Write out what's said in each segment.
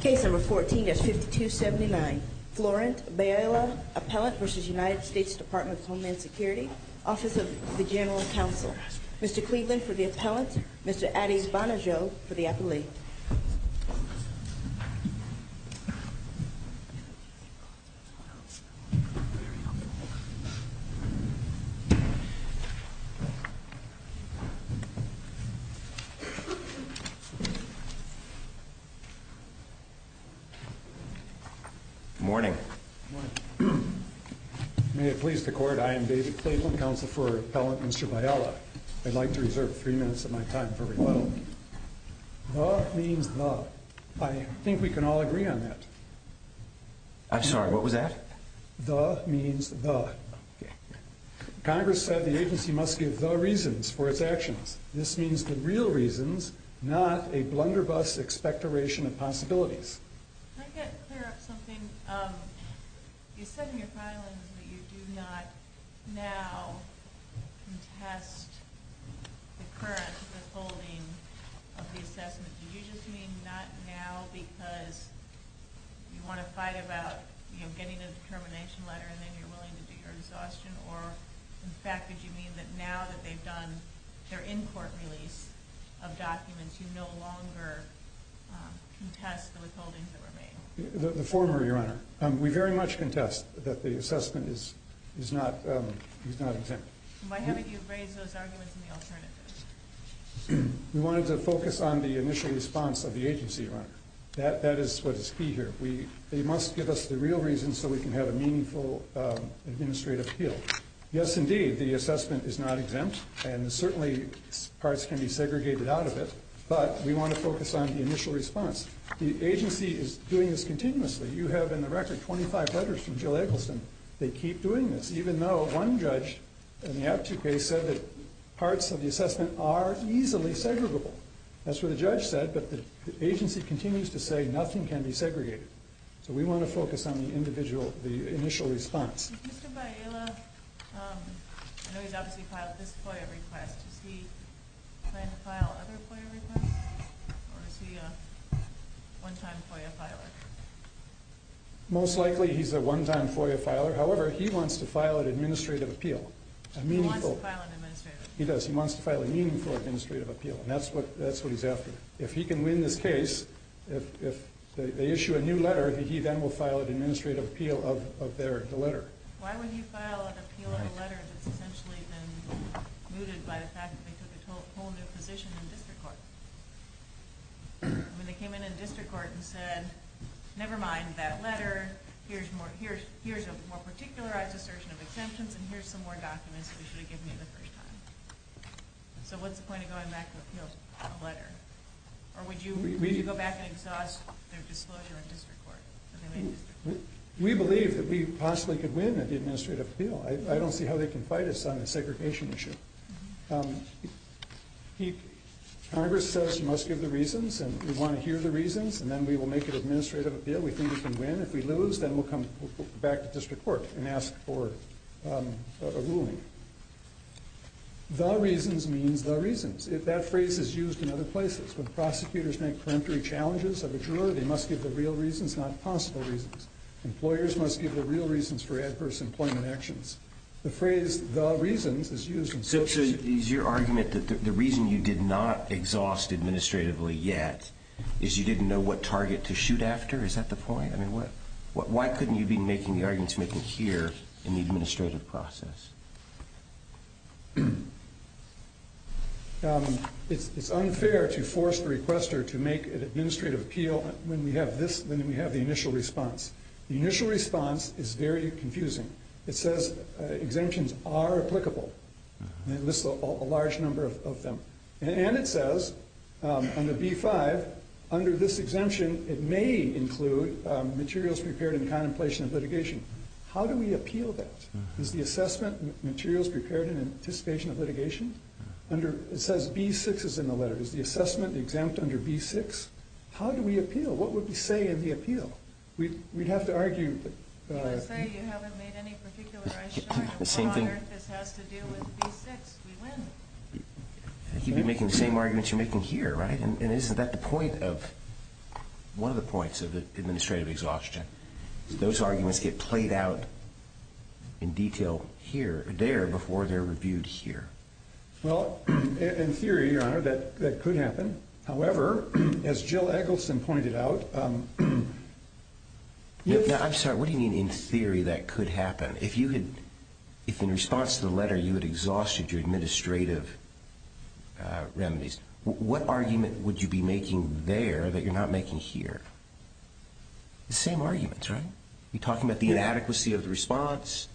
Case number 14-5279, Florent Bayala, Appellant v. United States Department of Homeland Security, Office of the General Counsel. Mr. Cleveland for the Appellant, Mr. Ades Banajo for the Appellant. Good morning. May it please the Court, I am David Cleveland, Counsel for Appellant, Mr. Bayala. I'd like to reserve three minutes of my time for rebuttal. The means the. I think we can all agree on that. I'm sorry, what was that? The means the. Congress said the agency must give the reasons for its actions. This means the real reasons, not a blunderbuss expectoration of possibilities. Could I get clear of something? You said in your filings that you do not now contest the current withholding of the assessment. Did you just mean not now because you want to fight about getting a determination letter and then you're willing to do your exhaustion? Or, in fact, did you mean that now that they've done their in-court release of documents, you no longer contest the withholdings that were made? The former, Your Honor. We very much contest that the assessment is not exempt. Why haven't you raised those arguments in the alternative? We wanted to focus on the initial response of the agency, Your Honor. That is what is key here. They must give us the real reasons so we can have a meaningful administrative appeal. Yes, indeed, the assessment is not exempt, and certainly parts can be segregated out of it, but we want to focus on the initial response. The agency is doing this continuously. You have in the record 25 letters from Jill Eggleston. They keep doing this, even though one judge in the Aptu case said that parts of the assessment are easily segregable. That's what the judge said, but the agency continues to say nothing can be segregated. So we want to focus on the initial response. Mr. Baiola, I know he's obviously filed this FOIA request. Does he plan to file other FOIA requests, or is he a one-time FOIA filer? Most likely he's a one-time FOIA filer. However, he wants to file an administrative appeal. He wants to file an administrative appeal. He does. He wants to file a meaningful administrative appeal, and that's what he's after. If he can win this case, if they issue a new letter, he then will file an administrative appeal of the letter. Why would he file an appeal of a letter that's essentially been mooted by the fact that they took a whole new position in district court? I mean, they came in in district court and said, never mind that letter. Here's a more particularized assertion of exemptions, and here's some more documents we should have given you the first time. So what's the point of going back to appeal a letter? Or would you go back and exhaust their disclosure in district court? We believe that we possibly could win an administrative appeal. I don't see how they can fight us on a segregation issue. Congress says you must give the reasons, and we want to hear the reasons, and then we will make an administrative appeal. We think we can win. If we lose, then we'll come back to district court and ask for a ruling. The reasons means the reasons. That phrase is used in other places. When prosecutors make preemptory challenges of a juror, they must give the real reasons, not possible reasons. Employers must give the real reasons for adverse employment actions. The phrase, the reasons, is used in some cases. So is your argument that the reason you did not exhaust administratively yet is you didn't know what target to shoot after? Is that the point? I mean, why couldn't you be making the arguments you're making here in the administrative process? It's unfair to force the requester to make an administrative appeal when we have this, when we have the initial response. The initial response is very confusing. It says exemptions are applicable. It lists a large number of them. And it says under B-5, under this exemption, it may include materials prepared in contemplation of litigation. How do we appeal that? Is the assessment materials prepared in anticipation of litigation? It says B-6 is in the letter. Is the assessment exempt under B-6? How do we appeal? What would we say in the appeal? We'd have to argue. You would say you haven't made any particular issue. The same thing. This has to do with B-6. We win. You'd be making the same arguments you're making here, right? And isn't that the point of, one of the points of the administrative exhaustion? Those arguments get played out in detail here, there, before they're reviewed here. Well, in theory, Your Honor, that could happen. However, as Jill Eggleston pointed out, yes. Now, I'm sorry. What do you mean in theory that could happen? If you had, if in response to the letter you had exhausted your administrative remedies, what argument would you be making there that you're not making here? The same arguments, right? You're talking about the inadequacy of the response.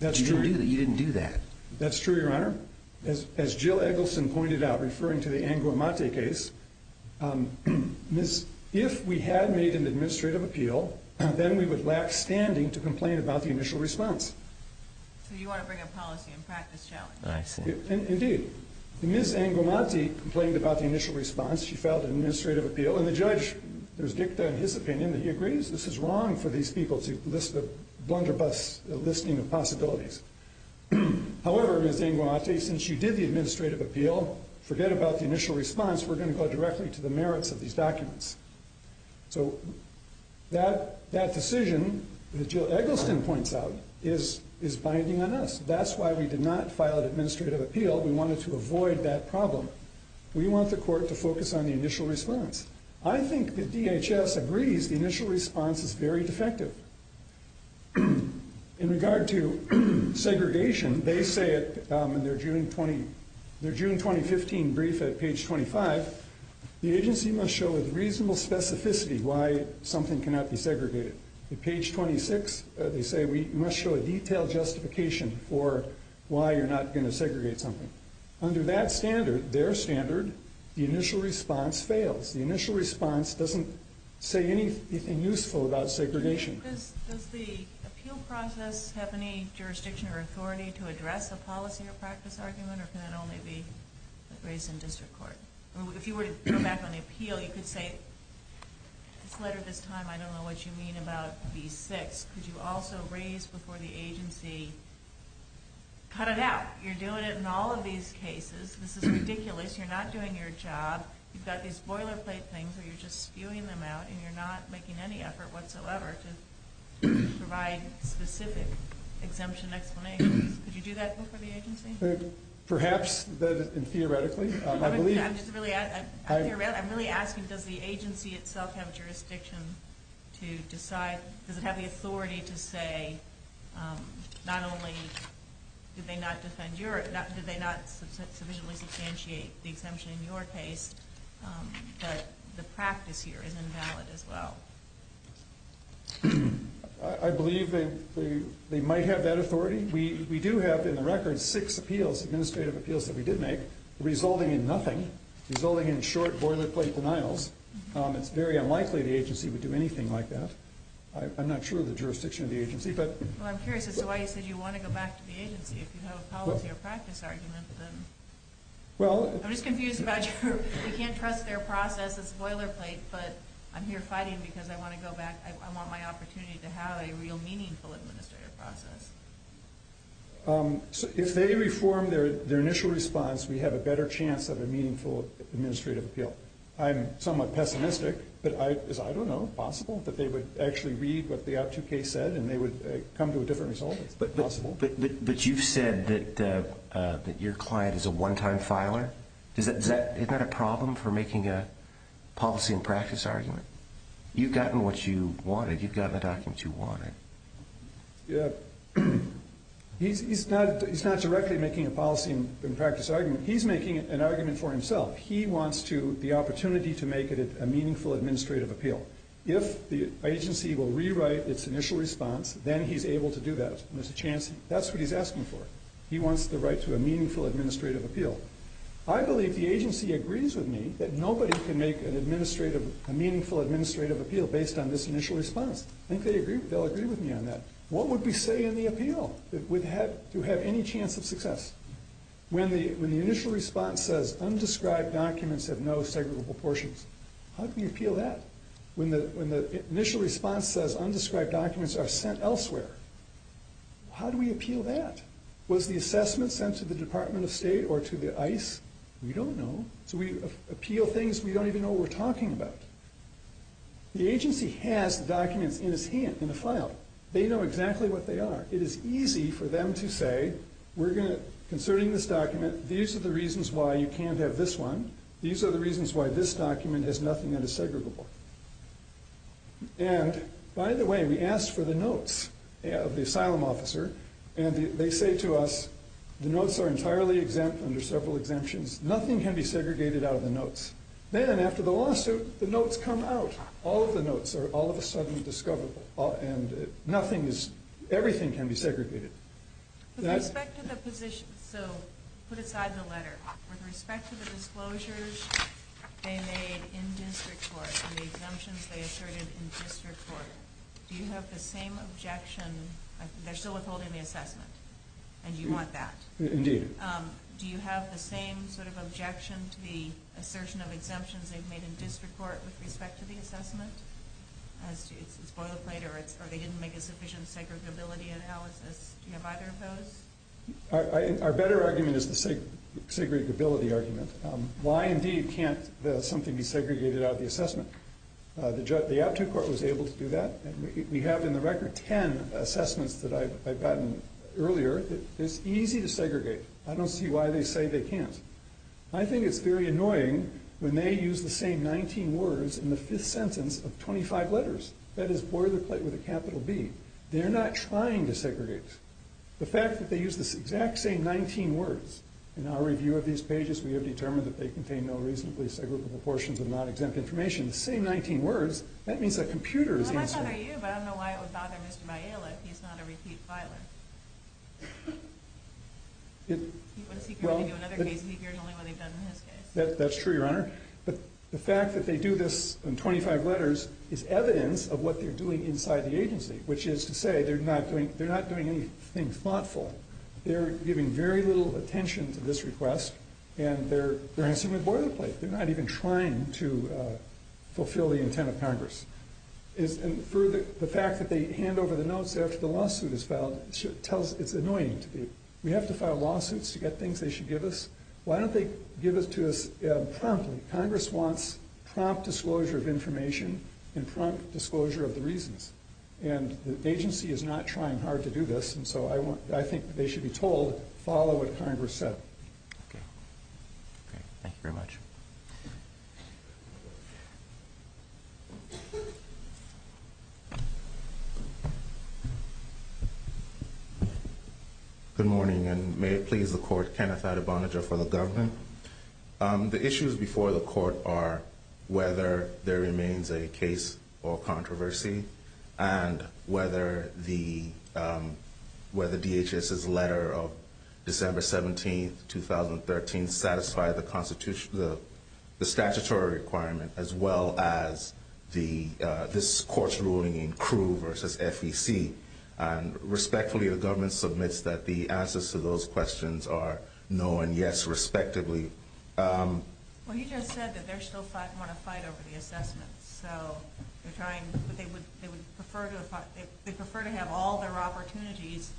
That's true. You didn't do that. That's true, Your Honor. However, as Jill Eggleston pointed out, referring to the Anguamate case, if we had made an administrative appeal, then we would lack standing to complain about the initial response. So you want to bring a policy and practice challenge. I see. Indeed. Ms. Anguamate complained about the initial response. She filed an administrative appeal. And the judge, there's dicta in his opinion that he agrees this is wrong for these people to list a blunderbuss, a listing of possibilities. However, Ms. Anguamate, since you did the administrative appeal, forget about the initial response. We're going to go directly to the merits of these documents. So that decision that Jill Eggleston points out is binding on us. That's why we did not file an administrative appeal. We wanted to avoid that problem. We want the court to focus on the initial response. I think the DHS agrees the initial response is very defective. In regard to segregation, they say in their June 2015 brief at page 25, the agency must show with reasonable specificity why something cannot be segregated. At page 26, they say we must show a detailed justification for why you're not going to segregate something. Under that standard, their standard, the initial response fails. The initial response doesn't say anything useful about segregation. Does the appeal process have any jurisdiction or authority to address a policy or practice argument, or can that only be raised in district court? If you were to go back on the appeal, you could say, this letter, this time I don't know what you mean about B6. Could you also raise before the agency cut it out? You're doing it in all of these cases. This is ridiculous. You're not doing your job. You've got these boilerplate things where you're just spewing them out, and you're not making any effort whatsoever to provide specific exemption explanations. Could you do that before the agency? Perhaps, theoretically. I'm really asking, does the agency itself have jurisdiction to decide, does it have the authority to say not only did they not sufficiently substantiate the exemption in your case, but the practice here is invalid as well? I believe they might have that authority. We do have, in the record, six appeals, administrative appeals that we did make, resulting in nothing, resulting in short boilerplate denials. It's very unlikely the agency would do anything like that. I'm not sure of the jurisdiction of the agency. Well, I'm curious as to why you said you want to go back to the agency. If you have a policy or practice argument, then. I'm just confused about your, you can't trust their process as boilerplate, but I'm here fighting because I want to go back, I want my opportunity to have a real meaningful administrative process. If they reform their initial response, we have a better chance of a meaningful administrative appeal. I'm somewhat pessimistic, but I don't know if it's possible that they would actually read what the OP2 case said and they would come to a different result. It's possible. But you've said that your client is a one-time filer. Is that a problem for making a policy and practice argument? You've gotten what you wanted. You've gotten the documents you wanted. He's not directly making a policy and practice argument. He's making an argument for himself. He wants the opportunity to make it a meaningful administrative appeal. If the agency will rewrite its initial response, then he's able to do that. There's a chance. That's what he's asking for. He wants the right to a meaningful administrative appeal. I believe the agency agrees with me that nobody can make a meaningful administrative appeal based on this initial response. I think they'll agree with me on that. What would we say in the appeal? Do we have any chance of success? When the initial response says, Undescribed documents have no segregable portions. How can you appeal that? When the initial response says, Undescribed documents are sent elsewhere. How do we appeal that? Was the assessment sent to the Department of State or to the ICE? We don't know. So we appeal things we don't even know what we're talking about. The agency has the documents in his hand, in the file. They know exactly what they are. It is easy for them to say, We're going to, concerning this document, These are the reasons why you can't have this one. These are the reasons why this document has nothing that is segregable. By the way, we asked for the notes of the asylum officer. They say to us, The notes are entirely exempt under several exemptions. Nothing can be segregated out of the notes. Then, after the lawsuit, the notes come out. All of the notes are all of a sudden discoverable. Everything can be segregated. With respect to the position, So, put aside the letter. With respect to the disclosures they made in district court, And the exemptions they asserted in district court, Do you have the same objection? They're still withholding the assessment. And you want that. Indeed. Do you have the same sort of objection to the assertion of exemptions They've made in district court with respect to the assessment? It's a spoiler plate, or they didn't make a sufficient segregability analysis. Do you have either of those? Our better argument is the segregability argument. Why, indeed, can't something be segregated out of the assessment? The aptu court was able to do that. We have, in the record, ten assessments that I've gotten earlier. It's easy to segregate. I don't see why they say they can't. I think it's very annoying when they use the same nineteen words In the fifth sentence of twenty-five letters. That is, spoiler plate with a capital B. They're not trying to segregate. The fact that they use the exact same nineteen words, In our review of these pages, We have determined that they contain no reasonably segregable portions of non-exempt information. The same nineteen words, that means the computer is the instrument. I don't know about you, but I don't know why it was not in Mr. Bialik. He's not a repeat filer. Well, that's true, Your Honor. But the fact that they do this in twenty-five letters Is evidence of what they're doing inside the agency. Which is to say, they're not doing anything thoughtful. They're giving very little attention to this request. And they're answering with boilerplate. They're not even trying to fulfill the intent of Congress. And for the fact that they hand over the notes after the lawsuit is filed, It's annoying to me. We have to file lawsuits to get things they should give us. Why don't they give it to us promptly? Congress wants prompt disclosure of information And prompt disclosure of the reasons. And the agency is not trying hard to do this. And so I think they should be told, Follow what Congress said. Okay. Thank you very much. Mr. Bialik. Good morning, and may it please the court, Kenneth Adebonajah for the government. The issues before the court are Whether there remains a case or controversy And whether DHS's letter of December 17, 2013 Satisfied the statutory requirement As well as this court's ruling in Crewe v. FEC. And respectfully, the government submits That the answers to those questions are no and yes, respectively. Well, you just said that they're still fighting On a fight over the assessments. So they're trying, but they would prefer to fight They prefer to have all their opportunities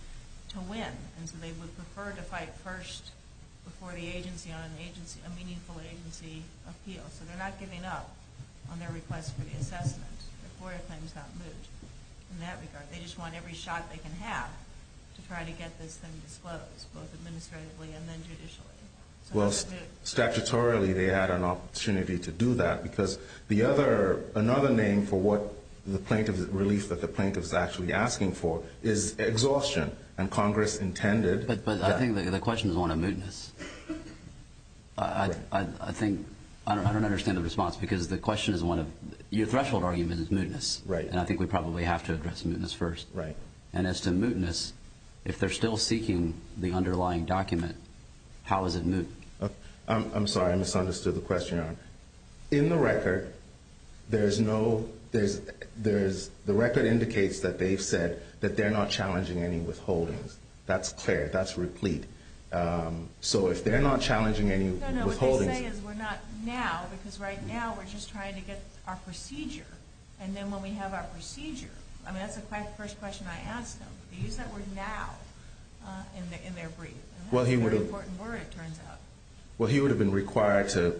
to win. And so they would prefer to fight first Before the agency on a meaningful agency appeal. So they're not giving up on their request for the assessment Before a claim is not moot in that regard. They just want every shot they can have To try to get this thing disclosed, Both administratively and then judicially. Well, statutorily they had an opportunity to do that Because another name for what the plaintiff's relief That the plaintiff's actually asking for Is exhaustion, and Congress intended But I think the question is on a mootness. I think... I don't understand the response Because the question is one of... Your threshold argument is mootness. And I think we probably have to address mootness first. And as to mootness, if they're still seeking The underlying document, how is it moot? I'm sorry, I misunderstood the question, Your Honor. In the record, there's no... The record indicates that they've said That they're not challenging any withholdings. That's clear. That's replete. So if they're not challenging any withholdings... No, no, what they say is we're not now Because right now we're just trying to get our procedure. And then when we have our procedure... I mean, that's the first question I asked them. They used that word now in their brief. And that's a very important word, it turns out. Well, he would have been required To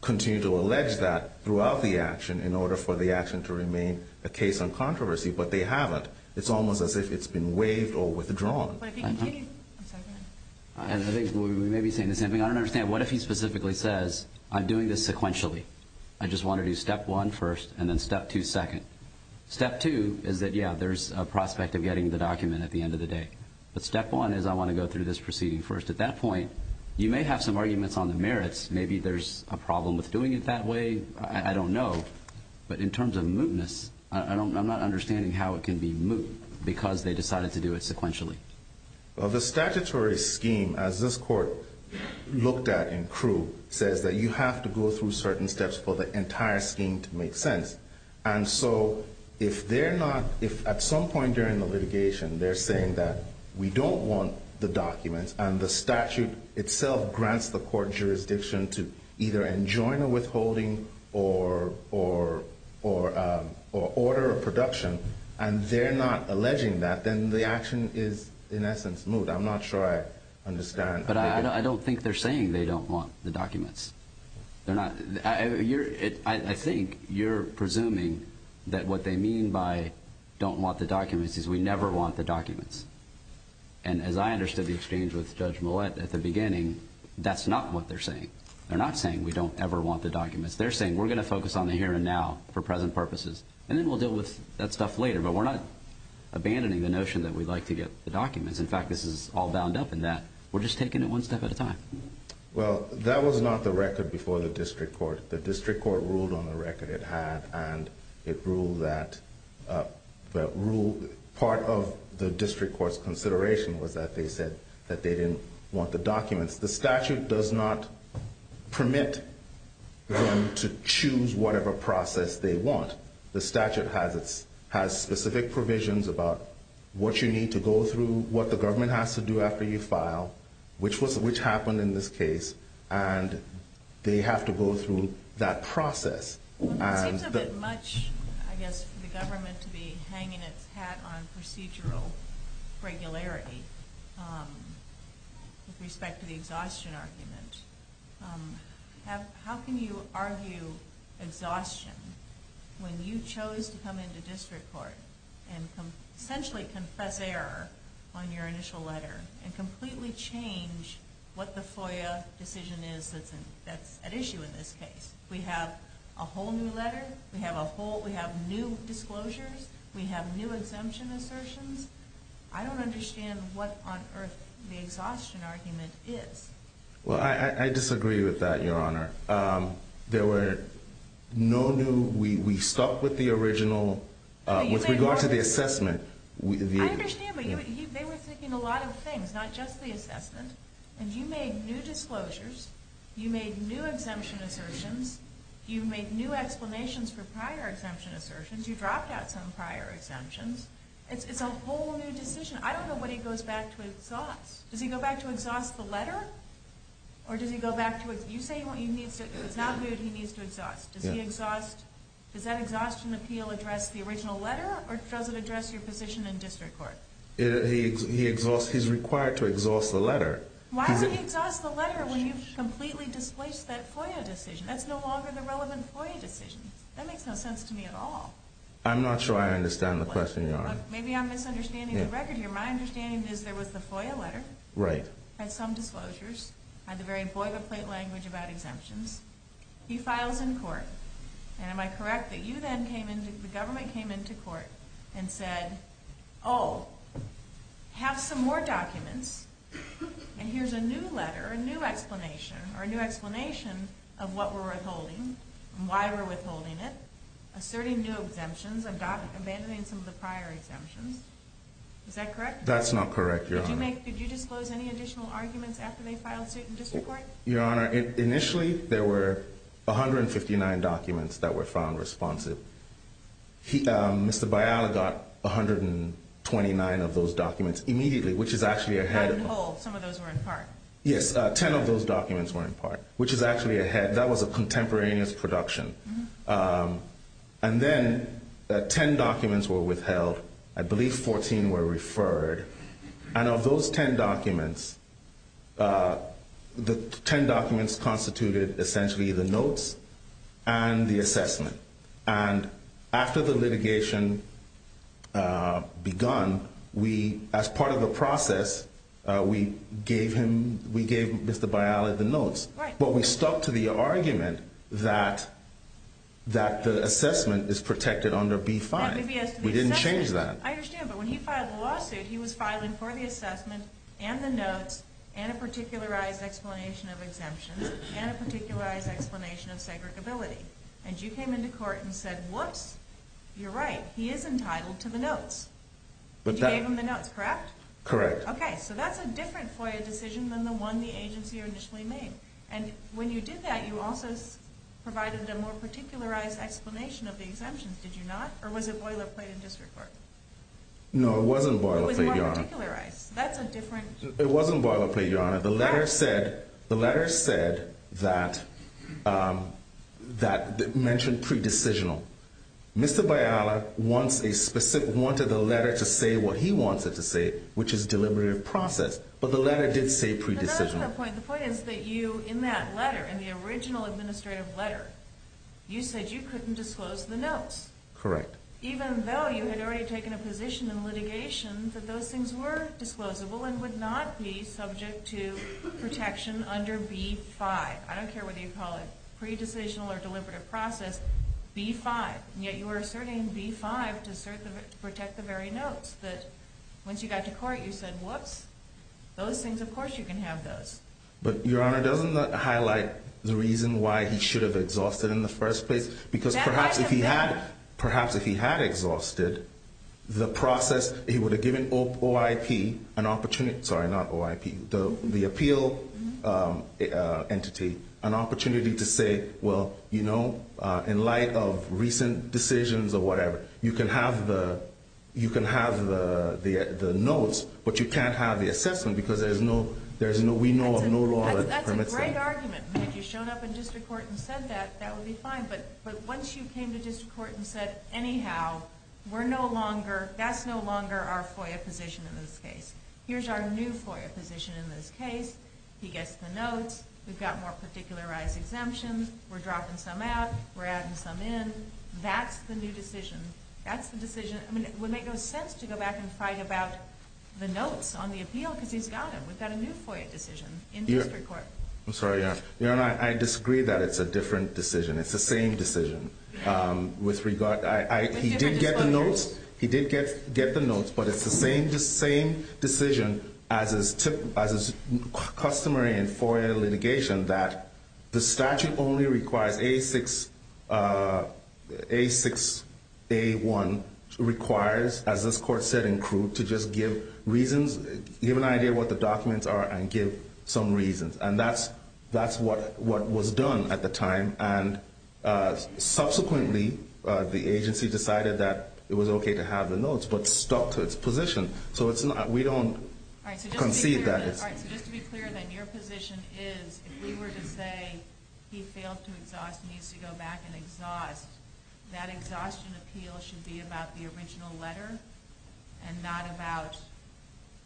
continue to allege that throughout the action In order for the action to remain a case on controversy. But they haven't. It's almost as if it's been waived or withdrawn. But if he continued... I'm sorry, go ahead. I think we may be saying the same thing. I don't understand, what if he specifically says I'm doing this sequentially. I just want to do step one first, and then step two second. Step two is that, yeah, there's a prospect Of getting the document at the end of the day. But step one is I want to go through this proceeding first. At that point, you may have some arguments on the merits. Maybe there's a problem with doing it that way. I don't know. But in terms of mootness, I'm not understanding How it can be moot because they decided to do it sequentially. Well, the statutory scheme, as this court looked at in Crewe, Says that you have to go through certain steps For the entire scheme to make sense. And so if they're not... If at some point during the litigation They're saying that we don't want the documents And the statute itself grants the court jurisdiction To either enjoin a withholding or order a production, And they're not alleging that, Then the action is, in essence, moot. I'm not sure I understand. But I don't think they're saying they don't want the documents. They're not... I think you're presuming that what they mean by Don't want the documents is we never want the documents. And as I understood the exchange with Judge Millett at the beginning, That's not what they're saying. They're not saying we don't ever want the documents. They're saying we're going to focus on the here and now For present purposes. And then we'll deal with that stuff later. But we're not abandoning the notion that we'd like to get the documents. In fact, this is all bound up in that We're just taking it one step at a time. Well, that was not the record before the district court. The district court ruled on the record it had, And it ruled that... Part of the district court's consideration Was that they said that they didn't want the documents. The statute does not permit them to choose whatever process they want. The statute has specific provisions about What you need to go through, What the government has to do after you file, Which happened in this case, And they have to go through that process. It seems a bit much, I guess, for the government To be hanging its hat on procedural regularity With respect to the exhaustion argument. How can you argue exhaustion When you chose to come into district court And essentially confess error on your initial letter And completely change what the FOIA decision is That's at issue in this case? We have a whole new letter? We have new disclosures? We have new exemption assertions? I don't understand what on earth the exhaustion argument is. Well, I disagree with that, Your Honor. There were no new... We stuck with the original... With regard to the assessment... I understand, but they were thinking a lot of things, Not just the assessment. And you made new disclosures, You made new exemption assertions, You made new explanations for prior exemption assertions, You dropped out some prior exemptions. It's a whole new decision. I don't know what he goes back to exhaust. Does he go back to exhaust the letter? Or does he go back to... You say it's not good, he needs to exhaust. Does that exhaustion appeal address the original letter, Or does it address your position in district court? He's required to exhaust the letter. Why does he exhaust the letter when you've completely displaced that FOIA decision? That's no longer the relevant FOIA decision. That makes no sense to me at all. I'm not sure I understand the question, Your Honor. Maybe I'm misunderstanding the record here. My understanding is there was the FOIA letter. Right. Had some disclosures. Had the very boilerplate language about exemptions. He files in court. And am I correct that you then came into... The government came into court and said, Oh, have some more documents, and here's a new letter, a new explanation, or a new explanation of what we're withholding and why we're withholding it, asserting new exemptions, abandoning some of the prior exemptions. Is that correct? That's not correct, Your Honor. Could you disclose any additional arguments after they filed suit in district court? Your Honor, initially there were 159 documents that were found responsive. Mr. Biala got 129 of those documents immediately, which is actually ahead of... Out of the whole. Some of those were in part. Yes, 10 of those documents were in part, which is actually ahead. That was a contemporaneous production. And then 10 documents were withheld. I believe 14 were referred. And of those 10 documents, the 10 documents constituted essentially the notes and the assessment. And after the litigation begun, as part of the process, we gave Mr. Biala the notes. But we stuck to the argument that the assessment is protected under B-5. We didn't change that. I understand, but when he filed the lawsuit, he was filing for the assessment and the notes and a particularized explanation of exemptions and a particularized explanation of segregability. And you came into court and said, whoops, you're right, he is entitled to the notes. You gave him the notes, correct? Correct. Okay, so that's a different FOIA decision than the one the agency initially made. And when you did that, you also provided a more particularized explanation of the exemptions, did you not? Or was it boilerplate in district court? No, it wasn't boilerplate, Your Honor. It was more particularized. That's a different... It wasn't boilerplate, Your Honor. The letter said that... It mentioned pre-decisional. Mr. Biala wants a specific... Wanted the letter to say what he wants it to say, which is deliberative process. But the letter did say pre-decisional. But that's not the point. The point is that you, in that letter, in the original administrative letter, you said you couldn't disclose the notes. Correct. Even though you had already taken a position in litigation that those things were disclosable and would not be subject to protection under B-5. I don't care whether you call it pre-decisional or deliberative process, B-5, and yet you were asserting B-5 to protect the very notes. But once you got to court, you said, whoops, those things, of course you can have those. But, Your Honor, doesn't that highlight the reason why he should have exhausted in the first place? Because perhaps if he had exhausted, the process, he would have given OIP an opportunity... Sorry, not OIP. The appeal entity an opportunity to say, well, you know, in light of recent decisions or whatever, you can have the notes, but you can't have the assessment because we know of no law that permits that. That's a great argument. Had you shown up in district court and said that, that would be fine. But once you came to district court and said, anyhow, that's no longer our FOIA position in this case. Here's our new FOIA position in this case. He gets the notes. We've got more particularized exemptions. We're dropping some out. We're adding some in. That's the new decision. That's the decision. I mean, it would make no sense to go back and fight about the notes on the appeal because he's got them. We've got a new FOIA decision in district court. I'm sorry, Your Honor. Your Honor, I disagree that it's a different decision. It's the same decision. He did get the notes, but it's the same decision as is customary in FOIA litigation that the statute only requires A6A1 requires, as this court said in crude, to just give reasons, give an idea of what the documents are and give some reasons. And that's what was done at the time. And subsequently, the agency decided that it was okay to have the notes but stuck to its position. So we don't concede that. All right. So just to be clear, then, your position is if we were to say he failed to exhaust and needs to go back and exhaust, that exhaustion appeal should be about the original letter and not about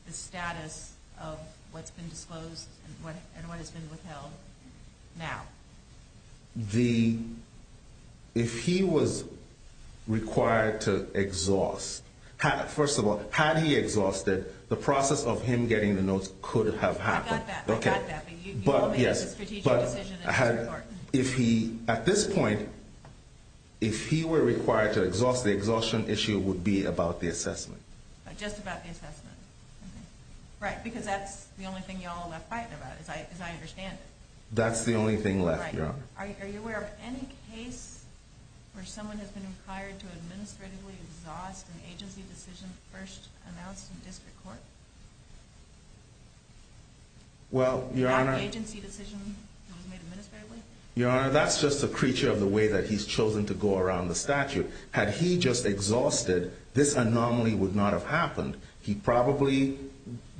the status of what's been disclosed and what has been withheld now. If he was required to exhaust, first of all, had he exhausted, the process of him getting the notes could have happened. I got that. But you all made a strategic decision in this court. At this point, if he were required to exhaust, the exhaustion issue would be about the assessment. Just about the assessment. Right, because that's the only thing you all left quiet about, as I understand it. That's the only thing left, your Honor. Right. Are you aware of any case where someone has been required to administratively exhaust an agency decision first announced in district court? Well, your Honor. Not the agency decision that was made administratively? Your Honor, that's just a creature of the way that he's chosen to go around the statute. Had he just exhausted, this anomaly would not have happened. He probably,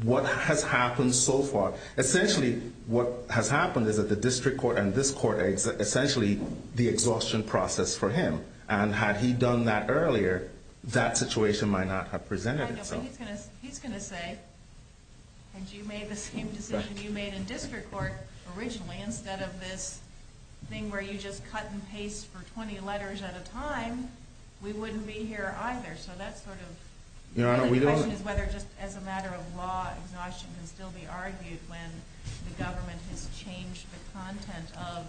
what has happened so far, essentially what has happened is that the district court and this court, essentially, the exhaustion process for him. And had he done that earlier, that situation might not have presented itself. I know, but he's going to say, had you made the same decision you made in district court originally, instead of this thing where you just cut and paste for 20 letters at a time, we wouldn't be here either. So that's sort of... Your Honor, we don't... The question is whether just as a matter of law, exhaustion can still be argued when the government has changed the content of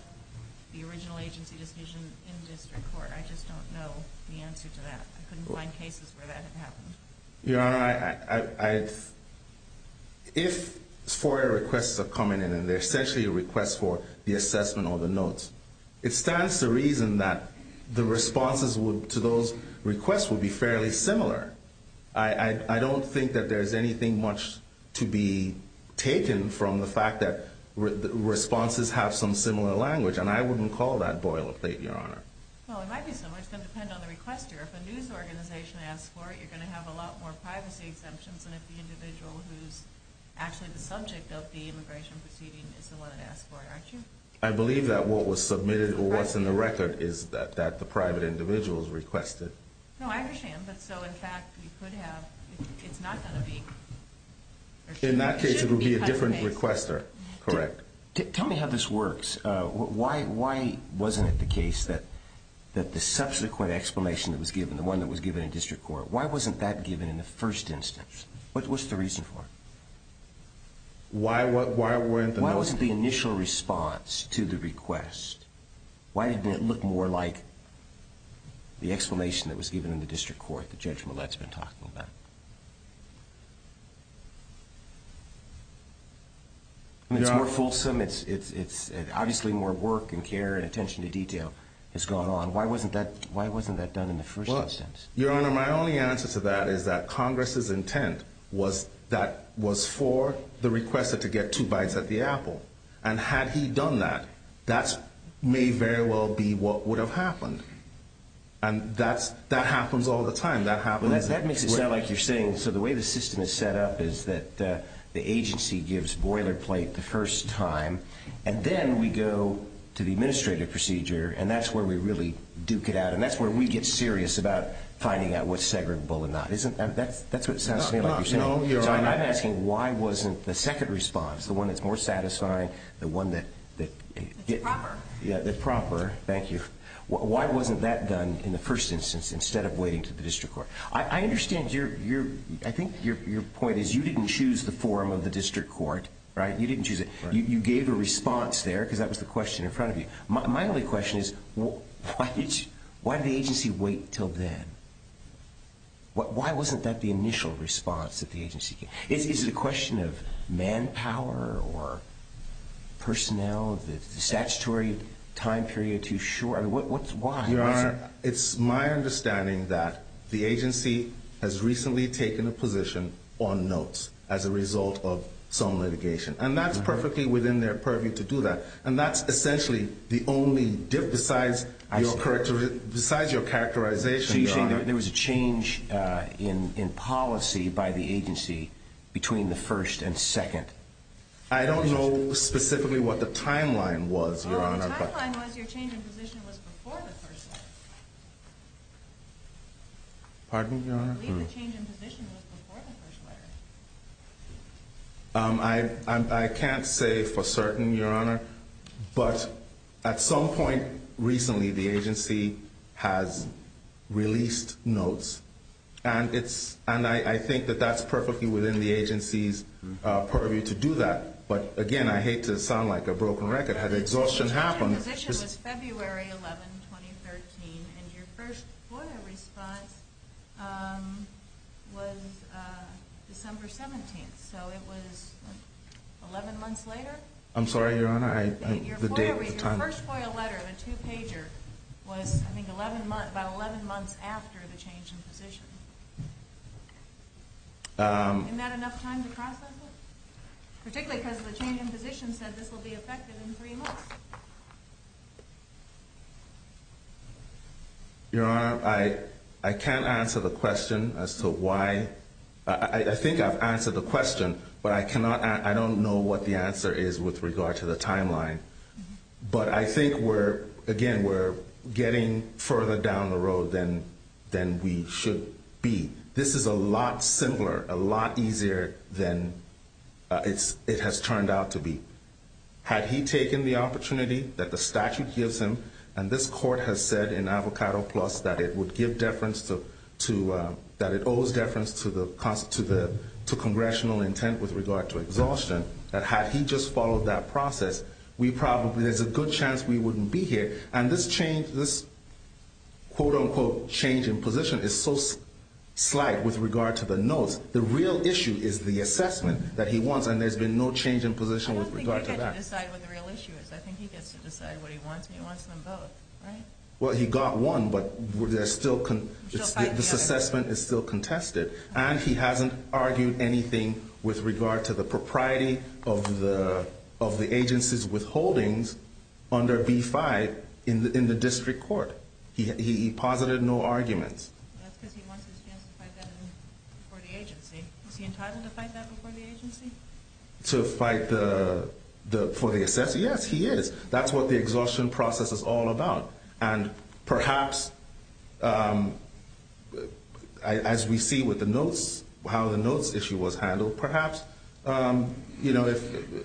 the original agency decision in district court. I just don't know the answer to that. I couldn't find cases where that had happened. Your Honor, I... If FOIA requests are coming in, and they're essentially requests for the assessment or the notes, it stands to reason that the responses to those requests would be fairly similar. I don't think that there's anything much to be taken from the fact that responses have some similar language, and I wouldn't call that boilerplate, Your Honor. Well, it might be similar. It's going to depend on the requester. If a news organization asks for it, you're going to have a lot more privacy exemptions than if the individual who's actually the subject of the immigration proceeding is the one that asks for it. Aren't you? I believe that what was submitted or what's in the record is that the private individual has requested. No, I understand. But so, in fact, you could have... It's not going to be... In that case, it would be a different requester, correct. Tell me how this works. Why wasn't it the case that the subsequent explanation that was given, the one that was given in district court, why wasn't that given in the first instance? What's the reason for it? Why weren't the... Why wasn't the initial response to the request... Why didn't it look more like the explanation that was given in the district court, the judge Millett's been talking about? It's more fulsome. Obviously, more work and care and attention to detail has gone on. Why wasn't that done in the first instance? Your Honor, my only answer to that is that Congress's intent was for the requester to get two bites at the apple. And had he done that, that may very well be what would have happened. And that happens all the time. That happens... That makes it sound like you're saying, so the way the system is set up is that the agency gives boilerplate the first time, and then we go to the administrative procedure, and that's where we really duke it out, and that's where we get serious about finding out what's segregable or not. That's what it sounds to me like you're saying. No, Your Honor. I'm asking why wasn't the second response, the one that's more satisfying, the one that... The proper. Yeah, the proper. Thank you. Why wasn't that done in the first instance instead of waiting to the district court? I understand your... I think your point is you didn't choose the form of the district court, right? You didn't choose it. You gave a response there because that was the question in front of you. My only question is why did the agency wait until then? Why wasn't that the initial response that the agency gave? Is it a question of manpower or personnel, the statutory time period too short? Why? Your Honor, it's my understanding that the agency has recently taken a position on notes as a result of some litigation, and that's perfectly within their purview to do that, and that's essentially the only difference besides your characterization, Your Honor. So you're saying there was a change in policy by the agency between the first and second? The timeline was your change in position was before the first letter. Pardon, Your Honor? I believe the change in position was before the first letter. I can't say for certain, Your Honor, but at some point recently the agency has released notes, and I think that that's perfectly within the agency's purview to do that, but again, I hate to sound like a broken record. The change in position was February 11, 2013, and your first FOIA response was December 17, so it was 11 months later? I'm sorry, Your Honor. Your first FOIA letter of a two-pager was, I think, about 11 months after the change in position. Isn't that enough time to process it? Particularly because the change in position said this will be effective in three months. Your Honor, I can't answer the question as to why. I think I've answered the question, but I don't know what the answer is with regard to the timeline. But I think, again, we're getting further down the road than we should be. This is a lot simpler, a lot easier than it has turned out to be. Had he taken the opportunity that the statute gives him, and this court has said in Avocado Plus that it owes deference to congressional intent with regard to exhaustion, that had he just followed that process, there's a good chance we wouldn't be here. And this change in position is so slight with regard to the notes. The real issue is the assessment that he wants, and there's been no change in position with regard to that. I don't think he gets to decide what the real issue is. I think he gets to decide what he wants, and he wants them both, right? Well, he got one, but this assessment is still contested. And he hasn't argued anything with regard to the propriety of the agency's withholdings under B-5 in the district court. He posited no arguments. That's because he wants his chance to fight that before the agency. Is he entitled to fight that before the agency? To fight for the assessment? Yes, he is. That's what the exhaustion process is all about. And perhaps, as we see with the notes, how the notes issue was handled, perhaps, you know,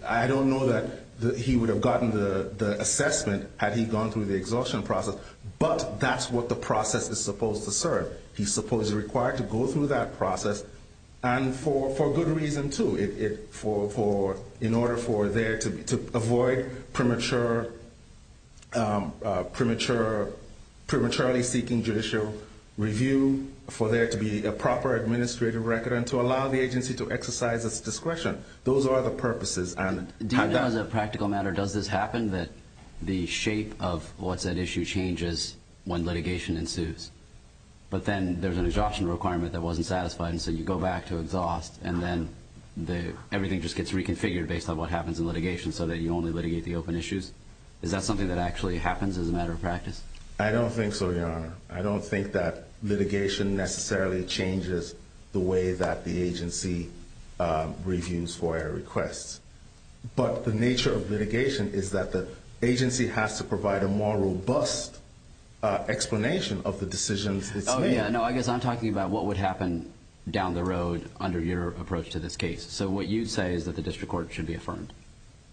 I don't know that he would have gotten the assessment had he gone through the exhaustion process. But that's what the process is supposed to serve. He's supposed to be required to go through that process, and for good reason, too. In order for there to avoid prematurely seeking judicial review, for there to be a proper administrative record, and to allow the agency to exercise its discretion, those are the purposes. Do you know as a practical matter, does this happen, that the shape of what's at issue changes when litigation ensues? But then there's an exhaustion requirement that wasn't satisfied, and so you go back to exhaust, and then everything just gets reconfigured based on what happens in litigation so that you only litigate the open issues? Is that something that actually happens as a matter of practice? I don't think so, Your Honor. I don't think that litigation necessarily changes the way that the agency reviews FOIA requests. But the nature of litigation is that the agency has to provide a more robust explanation of the decisions it's made. Oh, yeah. No, I guess I'm talking about what would happen down the road under your approach to this case. So what you'd say is that the district court should be affirmed.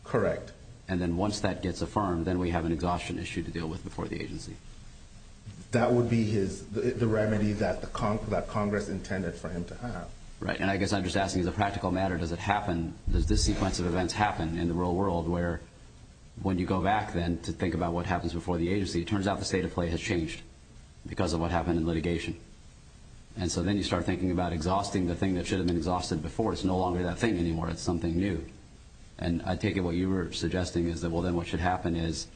Correct. And then once that gets affirmed, then we have an exhaustion issue to deal with before the agency. That would be the remedy that Congress intended for him to have. Right, and I guess I'm just asking as a practical matter, does this sequence of events happen in the real world where when you go back then to think about what happens before the agency, it turns out the state of play has changed because of what happened in litigation. And so then you start thinking about exhausting the thing that should have been exhausted before. It's no longer that thing anymore. It's something new. And I take it what you were suggesting is that, well, then what should happen is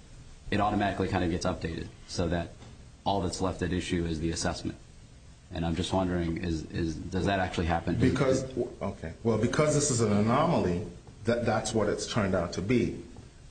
it automatically kind of gets updated. So that all that's left at issue is the assessment. And I'm just wondering, does that actually happen? Because, okay, well, because this is an anomaly, that's what it's turned out to be.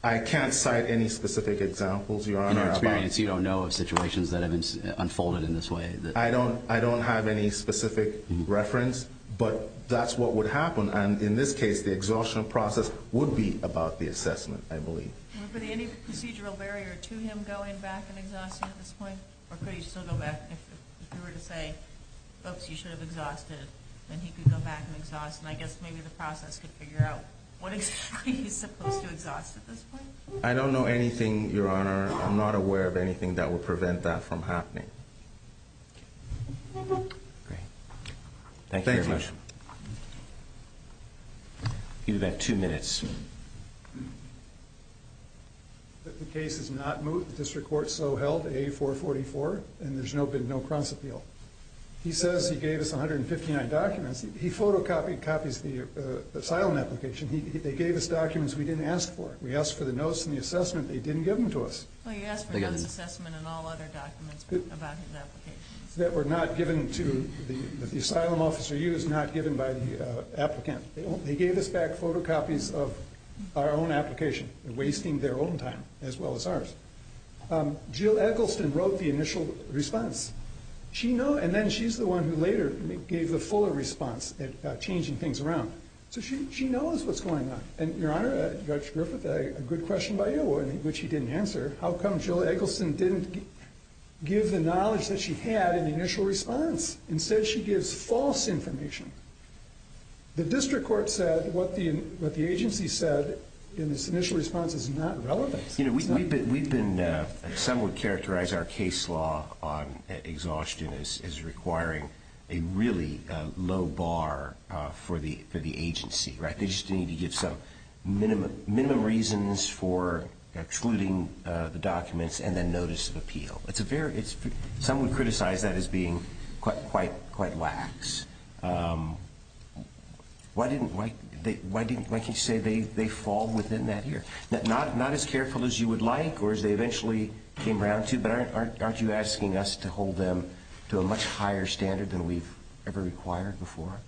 I can't cite any specific examples, Your Honor. In our experience, you don't know of situations that have unfolded in this way. I don't have any specific reference, but that's what would happen. And in this case, the exhaustion process would be about the assessment, I believe. Anybody, any procedural barrier to him going back and exhausting at this point? Or could he still go back? If you were to say, oops, you should have exhausted, then he could go back and exhaust. And I guess maybe the process could figure out what exactly he's supposed to exhaust at this point. I don't know anything, Your Honor. I'm not aware of anything that would prevent that from happening. Great. Thank you very much. Thank you. You have two minutes. The case is not moved. The district court so held, A444, and there's been no cross-appeal. He says he gave us 159 documents. He photocopied copies of the asylum application. They gave us documents we didn't ask for. We asked for the notes and the assessment. They didn't give them to us. Well, you asked for notes, assessment, and all other documents about his application. They were not given to the asylum officer. He was not given by the applicant. They gave us back photocopies of our own application, wasting their own time as well as ours. Jill Eggleston wrote the initial response. And then she's the one who later gave the fuller response, changing things around. So she knows what's going on. And, Your Honor, Judge Griffith, a good question by you, which he didn't answer. How come Jill Eggleston didn't give the knowledge that she had in the initial response? Instead, she gives false information. The district court said what the agency said in this initial response is not relevant. You know, we've been somewhat characterized our case law on exhaustion as requiring a really low bar for the agency, right? They just need to give some minimum reasons for excluding the documents and then notice of appeal. Some would criticize that as being quite lax. Why can't you say they fall within that here? Not as careful as you would like or as they eventually came around to, but aren't you asking us to hold them to a much higher standard than we've ever required before?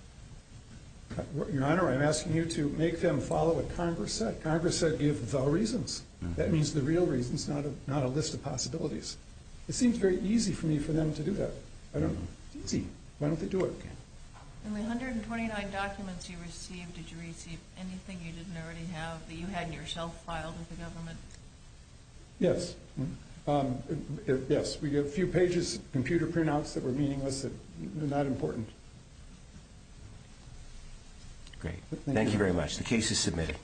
Your Honor, I'm asking you to make them follow what Congress said. Congress said give the reasons. That means the real reasons, not a list of possibilities. It seems very easy for me for them to do that. I don't know. It's easy. Why don't they do it? In the 129 documents you received, did you receive anything you didn't already have that you had in your shelf filed with the government? Yes. Yes, we have a few pages of computer printouts that were meaningless and not important. Great. Thank you very much. The case is submitted.